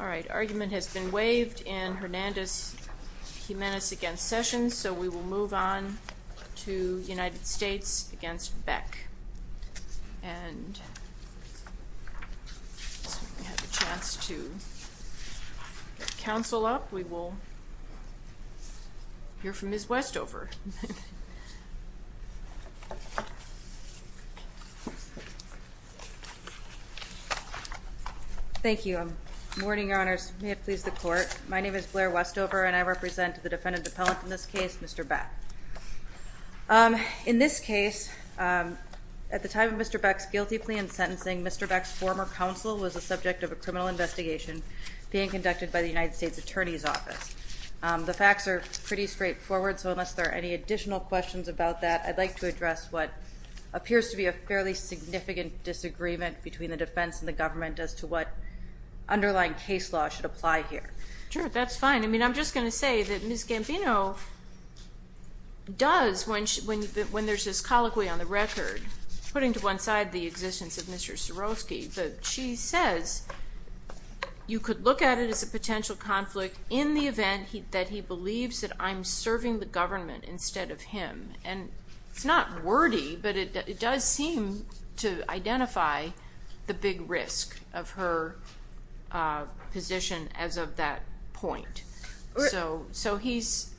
The argument has been waived in Hernandez-Jimenez v. Sessions, so we will move on to United Thank you. Good morning, Your Honors. May it please the Court. My name is Blair Westover, and I represent the defendant appellant in this case, Mr. Beck. In this case, at the time of Mr. Beck's guilty plea and sentencing, Mr. Beck's former counsel was the subject of a criminal investigation being conducted by the United States Attorney's Office. The facts are pretty straightforward, so unless there are any additional questions about that, I'd like to address what appears to be a fairly significant disagreement between the defense and the government as to what underlying case law should apply here. Sure, that's fine. I mean, I'm just going to say that Ms. Gambino does, when there's this colloquy on the record, putting to one side the existence of Mr. Sieroski, that she says you could look at it as a potential conflict in the event that he believes that I'm serving the government instead of him. And it's not wordy, but it does seem to identify the big risk of her position as of that point. So he's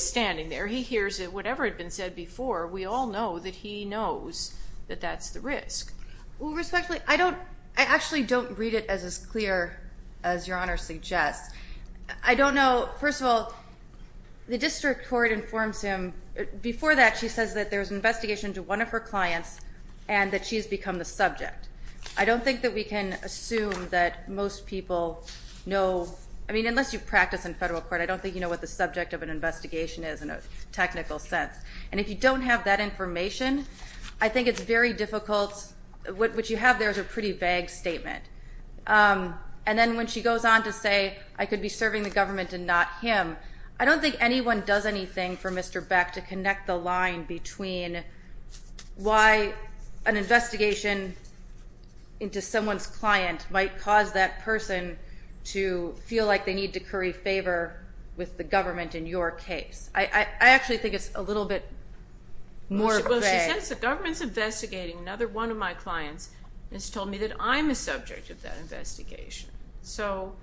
standing there, he hears whatever had been said before, we all know that he knows that that's the risk. Well, respectfully, I actually don't read it as clear as Your Honor suggests. I don't know, first of all, the district court informs him, before that she says that there's an investigation into one of her clients and that she's become the subject. I don't think that we can assume that most people know, I mean, unless you practice in federal court, I don't think you know what the subject of an investigation is in a technical sense. And if you don't have that information, I think it's very difficult, what you have there is a pretty vague statement. And then when she goes on to say I could be serving the government and not him, I don't think anyone does anything for Mr. Beck to connect the line between why an investigation into someone's client might cause that person to feel like they need to curry favor with the government in your case. I actually think it's a little bit more vague. Well, she says the government's investigating another one of my clients, and she told me that I'm the subject of that investigation. So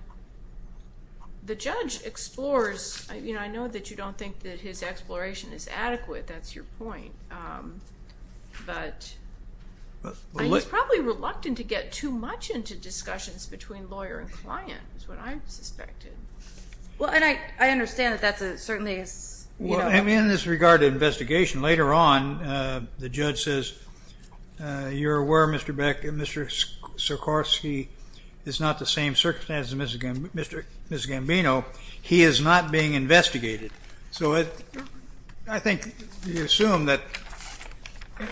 the judge explores, you know, I know that you don't think that his exploration is adequate, that's your point, but he's probably reluctant to get too much into discussions between lawyer and client is what I'm suspecting. Well, and I understand that that's a certain thing. Well, I mean, in this regard to investigation, later on, the judge says, you're aware, Mr. Beck, Mr. Sikorski is not the same circumstance as Mr. Gambino, he is not being investigated. So I think you assume that being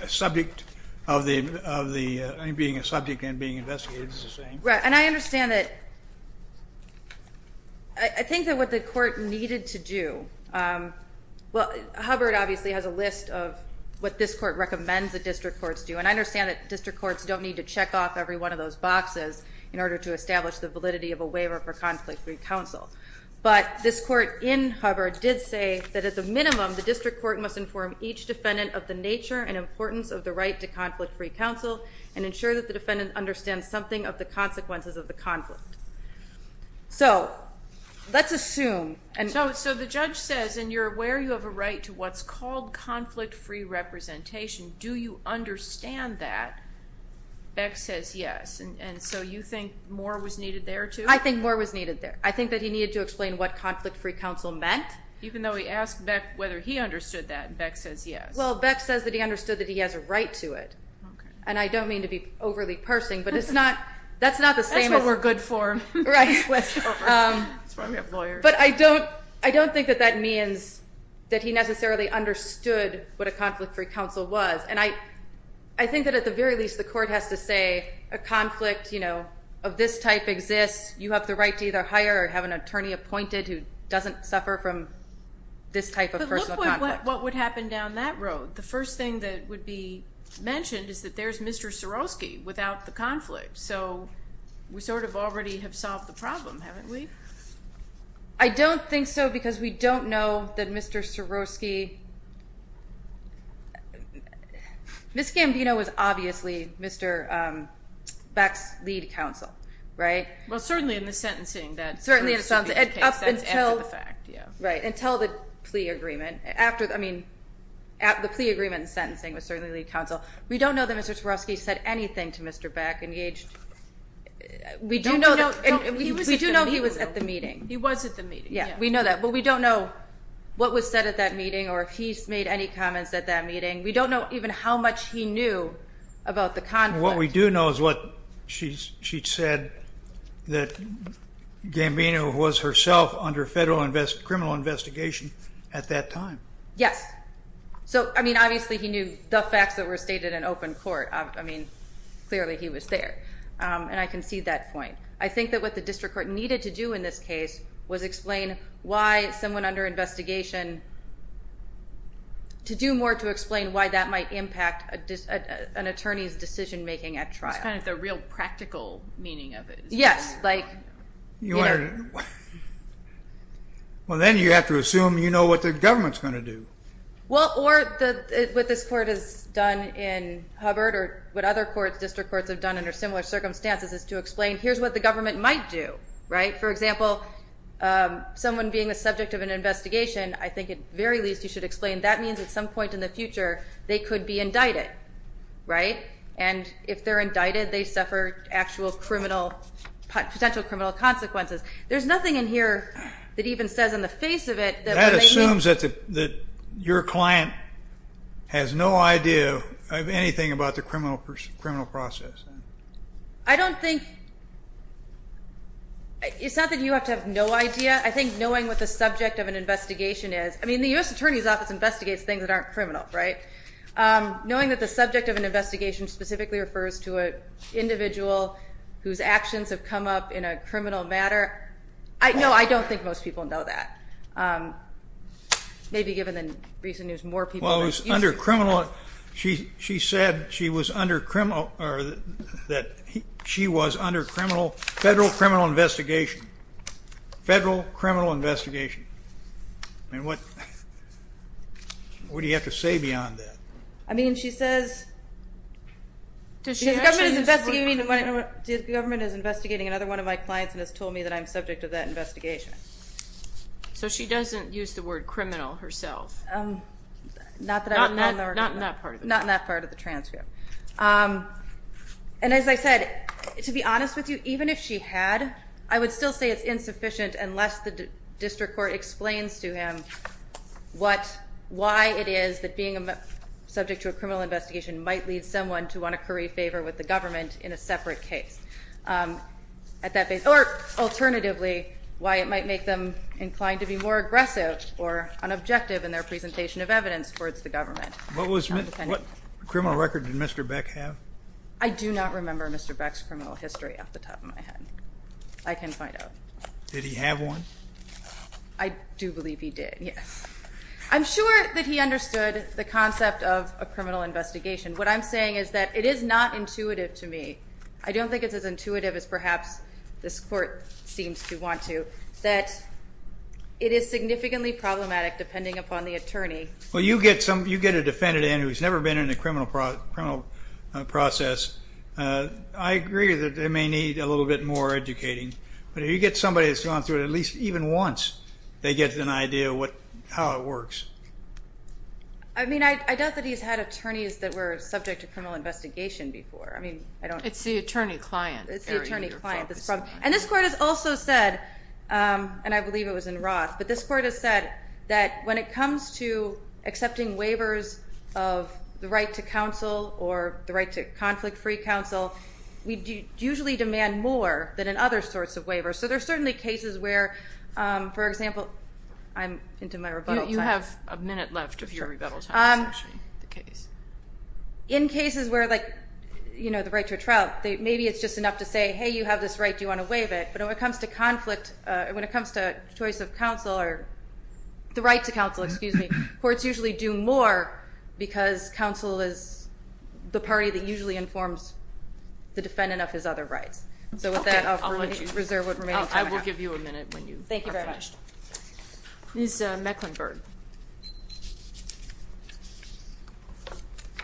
a subject and being investigated is the same. Right, and I understand that, I think that what the court needed to do, well, Hubbard obviously has a list of what this court recommends that district courts do, and I understand that district courts don't need to check off every one of those boxes in order to establish the validity of a waiver for conflict-free counsel. But this court in Hubbard did say that at the minimum, the district court must inform each defendant of the nature and importance of the right to conflict-free counsel, and ensure that the defendant understands something of the consequences of the conflict. So, let's assume. So the judge says, and you're aware you have a right to what's called conflict-free representation, do you understand that? Beck says yes, and so you think more was needed there too? I think more was needed there. I think that he needed to explain what conflict-free counsel meant. Even though he asked Beck whether he understood that, Beck says yes. Well, Beck says that he understood that he has a right to it. And I don't mean to be overly parsing, but it's not, that's not the same as. That's what we're good for. Right. That's why we have lawyers. But I don't, I don't think that that means that he necessarily understood what a conflict-free counsel was. And I, I think that at the very least the court has to say, a conflict, you know, of this type exists. You have the right to either hire or have an attorney appointed who doesn't suffer from this type of personal conflict. But look what would happen down that road. The first thing that would be mentioned is that there's Mr. Sieroski without the conflict. So, we sort of already have solved the problem, haven't we? I don't think so because we don't know that Mr. Sieroski, Ms. Gambino was obviously Mr. Beck's lead counsel. Right? Well, certainly in the sentencing. Certainly in the sentencing. Up until. After the fact, yeah. Right. Until the plea agreement. After, I mean, the plea agreement and sentencing was certainly lead counsel. We don't know that Mr. Sieroski said anything to Mr. Beck. We do know he was at the meeting. He was at the meeting. Yeah, we know that. But we don't know what was said at that meeting or if he made any comments at that meeting. We don't know even how much he knew about the conflict. What we do know is what she said, that Gambino was herself under federal criminal investigation at that time. Yes. So, I mean, obviously he knew the facts that were stated in open court. I mean, clearly he was there. And I concede that point. I think that what the district court needed to do in this case was explain why someone under investigation, to do more to explain why that might impact an attorney's decision making at trial. It's kind of the real practical meaning of it. Yes. Like, you know. Well, then you have to assume you know what the government's going to do. Well, or what this court has done in Hubbard or what other district courts have done under similar circumstances is to explain here's what the government might do. Right? For example, someone being the subject of an investigation, I think at the very least you should explain that means at some point in the future they could be indicted. Right? And if they're indicted, they suffer actual criminal, potential criminal consequences. There's nothing in here that even says in the face of it. That assumes that your client has no idea of anything about the criminal process. I don't think. It's not that you have to have no idea. I think knowing what the subject of an investigation is. I mean, the U.S. Attorney's Office investigates things that aren't criminal. Right? Knowing that the subject of an investigation specifically refers to an individual whose actions have come up in a criminal matter. No, I don't think most people know that. Maybe given the recent news, more people. Well, it was under criminal. She said she was under criminal or that she was under federal criminal investigation. Federal criminal investigation. I mean, what do you have to say beyond that? I mean, she says the government is investigating another one of my clients and has told me that I'm subject to that investigation. So she doesn't use the word criminal herself? Not in that part of the transcript. And as I said, to be honest with you, even if she had, I would still say it's insufficient unless the district court explains to him why it is that being subject to a criminal investigation might lead someone to want to curry favor with the government in a separate case. Or alternatively, why it might make them inclined to be more aggressive or unobjective in their presentation of evidence towards the government. What criminal record did Mr. Beck have? I do not remember Mr. Beck's criminal history off the top of my head. I can find out. Did he have one? I do believe he did, yes. I'm sure that he understood the concept of a criminal investigation. What I'm saying is that it is not intuitive to me. I don't think it's as intuitive as perhaps this court seems to want to, that it is significantly problematic depending upon the attorney. Well, you get a defendant in who's never been in a criminal process. I agree that they may need a little bit more educating. But if you get somebody that's gone through it at least even once, they get an idea of how it works. I mean, I doubt that he's had attorneys that were subject to criminal investigation before. I mean, I don't know. It's the attorney client. It's the attorney client. And this court has also said, and I believe it was in Roth, but this court has said that when it comes to accepting waivers of the right to counsel or the right to conflict-free counsel, we usually demand more than in other sorts of waivers. So there are certainly cases where, for example, I'm into my rebuttal time. You have a minute left of your rebuttal time. In cases where, like, you know, the right to a trial, maybe it's just enough to say, hey, you have this right, do you want to waive it? But when it comes to conflict, when it comes to choice of counsel or the right to counsel, excuse me, courts usually do more because counsel is the party that usually informs the defendant of his other rights. So with that, I'll reserve what remains. Thank you very much. Ms. Mecklenburg.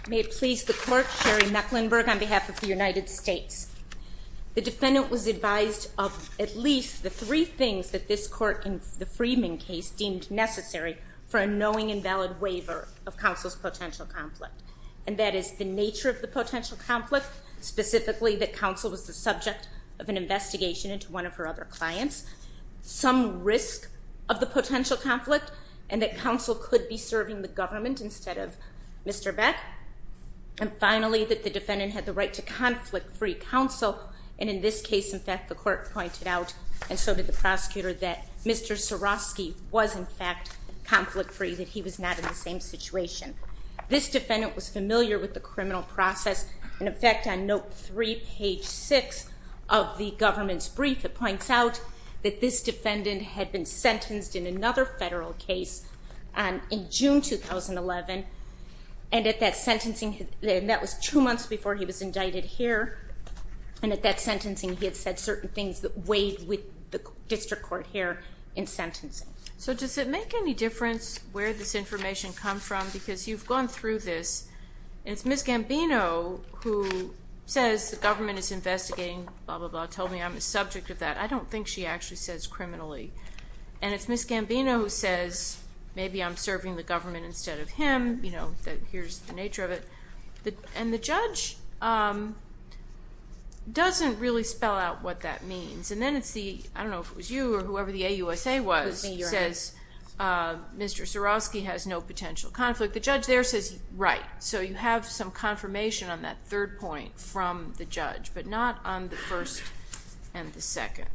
May it please the court, Sherry Mecklenburg on behalf of the United States. The defendant was advised of at least the three things that this court in the Freeman case deemed necessary for a knowing and valid waiver of counsel's potential conflict, and that is the nature of the potential conflict, specifically that counsel was the subject of an investigation into one of her other clients, some risk of the potential conflict, and that counsel could be serving the government instead of Mr. Beck. And finally, that the defendant had the right to conflict-free counsel, and in this case, in fact, the court pointed out, and so did the prosecutor, that Mr. Soroski was, in fact, conflict-free, that he was not in the same situation. This defendant was familiar with the criminal process. In effect, on note three, page six of the government's brief, it points out that this defendant had been sentenced in another federal case in June 2011, and at that sentencing, and that was two months before he was indicted here, and at that sentencing he had said certain things that weighed with the district court here in sentencing. So does it make any difference where this information comes from? Because you've gone through this, and it's Ms. Gambino who says the government is investigating, blah, blah, blah, told me I'm a subject of that. I don't think she actually says criminally. And it's Ms. Gambino who says maybe I'm serving the government instead of him. You know, here's the nature of it. And the judge doesn't really spell out what that means. And then it's the, I don't know if it was you or whoever the AUSA was, says Mr. Soroski has no potential conflict. The judge there says, right, so you have some confirmation on that third point from the judge, but not on the first and the second.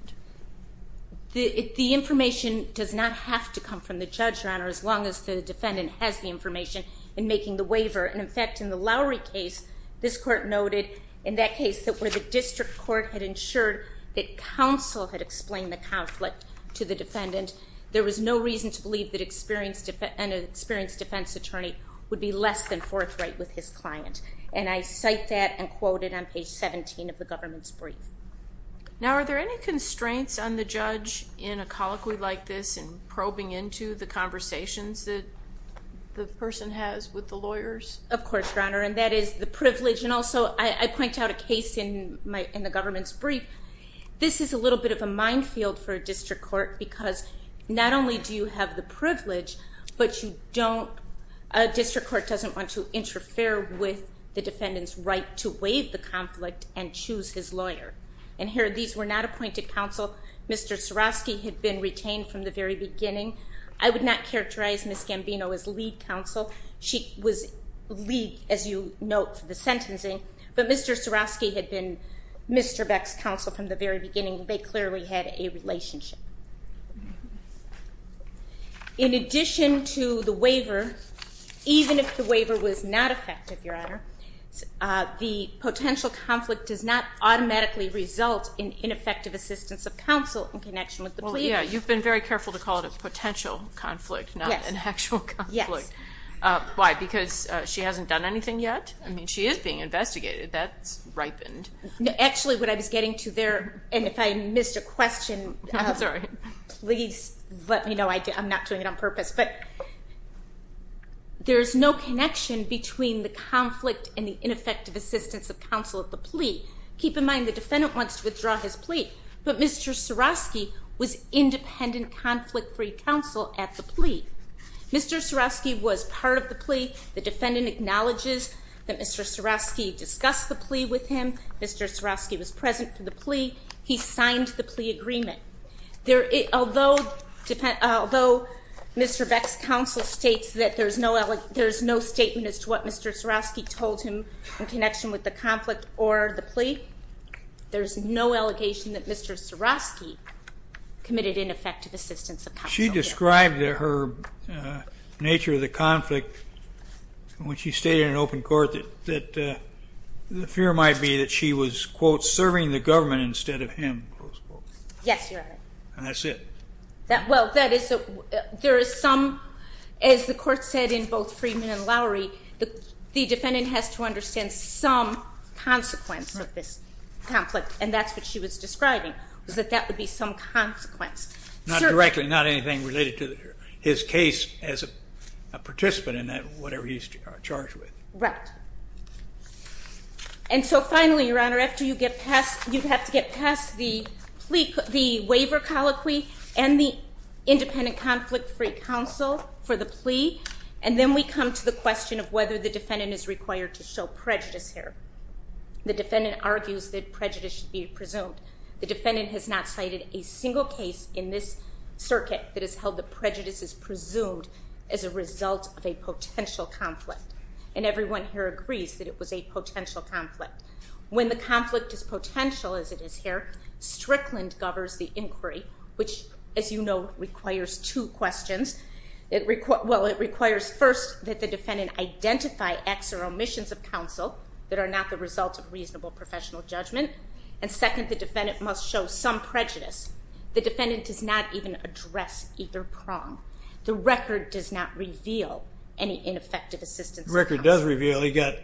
The information does not have to come from the judge, Your Honor, as long as the defendant has the information in making the waiver. And, in fact, in the Lowry case, this court noted in that case that where the district court had ensured that counsel had explained the conflict to the defendant, there was no reason to believe that an experienced defense attorney would be less than forthright with his client. And I cite that and quote it on page 17 of the government's brief. Now, are there any constraints on the judge in a colloquy like this and probing into the conversations that the person has with the lawyers? Of course, Your Honor, and that is the privilege. And also I point out a case in the government's brief. This is a little bit of a minefield for a district court because not only do you have the privilege, but you don't, a district court doesn't want to interfere with the defendant's right to waive the conflict and choose his lawyer. And here, these were not appointed counsel. Mr. Suroski had been retained from the very beginning. I would not characterize Ms. Gambino as lead counsel. She was lead, as you note, for the sentencing. But Mr. Suroski had been Mr. Beck's counsel from the very beginning. They clearly had a relationship. In addition to the waiver, even if the waiver was not effective, Your Honor, the potential conflict does not automatically result in ineffective assistance of counsel in connection with the plea. Well, yeah, you've been very careful to call it a potential conflict, not an actual conflict. Yes. Why? Because she hasn't done anything yet? I mean, she is being investigated. That's ripened. Actually, what I was getting to there, and if I missed a question. I'm sorry. Please let me know. I'm not doing it on purpose. But there is no connection between the conflict and the ineffective assistance of counsel at the plea. Keep in mind, the defendant wants to withdraw his plea, but Mr. Suroski was independent, conflict-free counsel at the plea. Mr. Suroski was part of the plea. The defendant acknowledges that Mr. Suroski discussed the plea with him. Mr. Suroski was present for the plea. He signed the plea agreement. Although Mr. Beck's counsel states that there's no statement as to what Mr. Suroski told him in connection with the conflict or the plea, there's no allegation that Mr. Suroski committed ineffective assistance of counsel. She described her nature of the conflict when she stayed in an open court, that the fear might be that she was, quote, serving the government instead of him, close quote. Yes, Your Honor. And that's it. Well, that is a, there is some, as the court said in both Freeman and Lowery, the defendant has to understand some consequence of this conflict, and that's what she was describing, was that that would be some consequence. Not directly, not anything related to his case as a participant in that, whatever he's charged with. Right. And so finally, Your Honor, after you get past, you have to get past the plea, the waiver colloquy, and the independent conflict-free counsel for the plea, and then we come to the question of whether the defendant is required to show prejudice here. The defendant argues that prejudice should be presumed. The defendant has not cited a single case in this circuit that has held that prejudice is presumed as a result of a potential conflict. And everyone here agrees that it was a potential conflict. When the conflict is potential, as it is here, Strickland governs the inquiry, which, as you know, requires two questions. Well, it requires first that the defendant identify acts or omissions of counsel that are not the result of reasonable professional judgment, and second, the defendant must show some prejudice. The defendant does not even address either prong. The record does not reveal any ineffective assistance. The record does reveal he got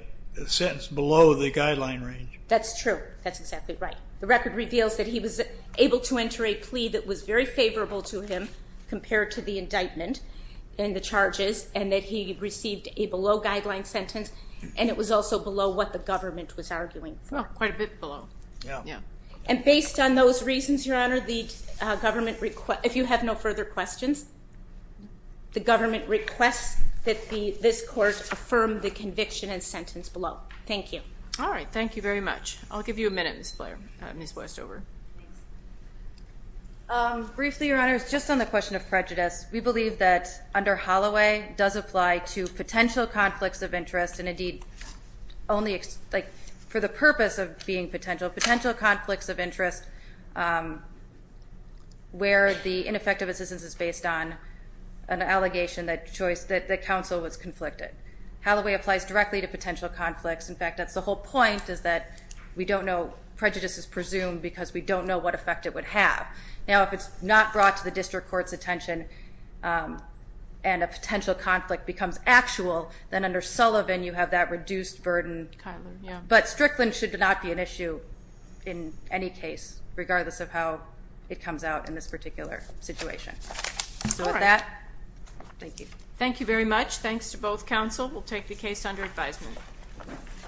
sentenced below the guideline range. That's true. That's exactly right. The record reveals that he was able to enter a plea that was very favorable to him compared to the indictment and the charges, and that he received a below-guideline sentence, and it was also below what the government was arguing for. Well, quite a bit below. Yeah. And based on those reasons, Your Honor, if you have no further questions, the government requests that this court affirm the conviction and sentence below. Thank you. All right. Thank you very much. I'll give you a minute, Ms. Westover. Briefly, Your Honor, just on the question of prejudice, we believe that under Holloway does apply to potential conflicts of interest and, indeed, only for the purpose of being potential, potential conflicts of interest where the ineffective assistance is based on an allegation that counsel was conflicted. Holloway applies directly to potential conflicts. In fact, that's the whole point is that we don't know prejudice is presumed because we don't know what effect it would have. Now, if it's not brought to the district court's attention and a potential conflict becomes actual, then under Sullivan you have that reduced burden. Kyler, yeah. But Strickland should not be an issue in any case, regardless of how it comes out in this particular situation. All right. So with that, thank you. Thank you very much. Thanks to both counsel. We'll take the case under advisement.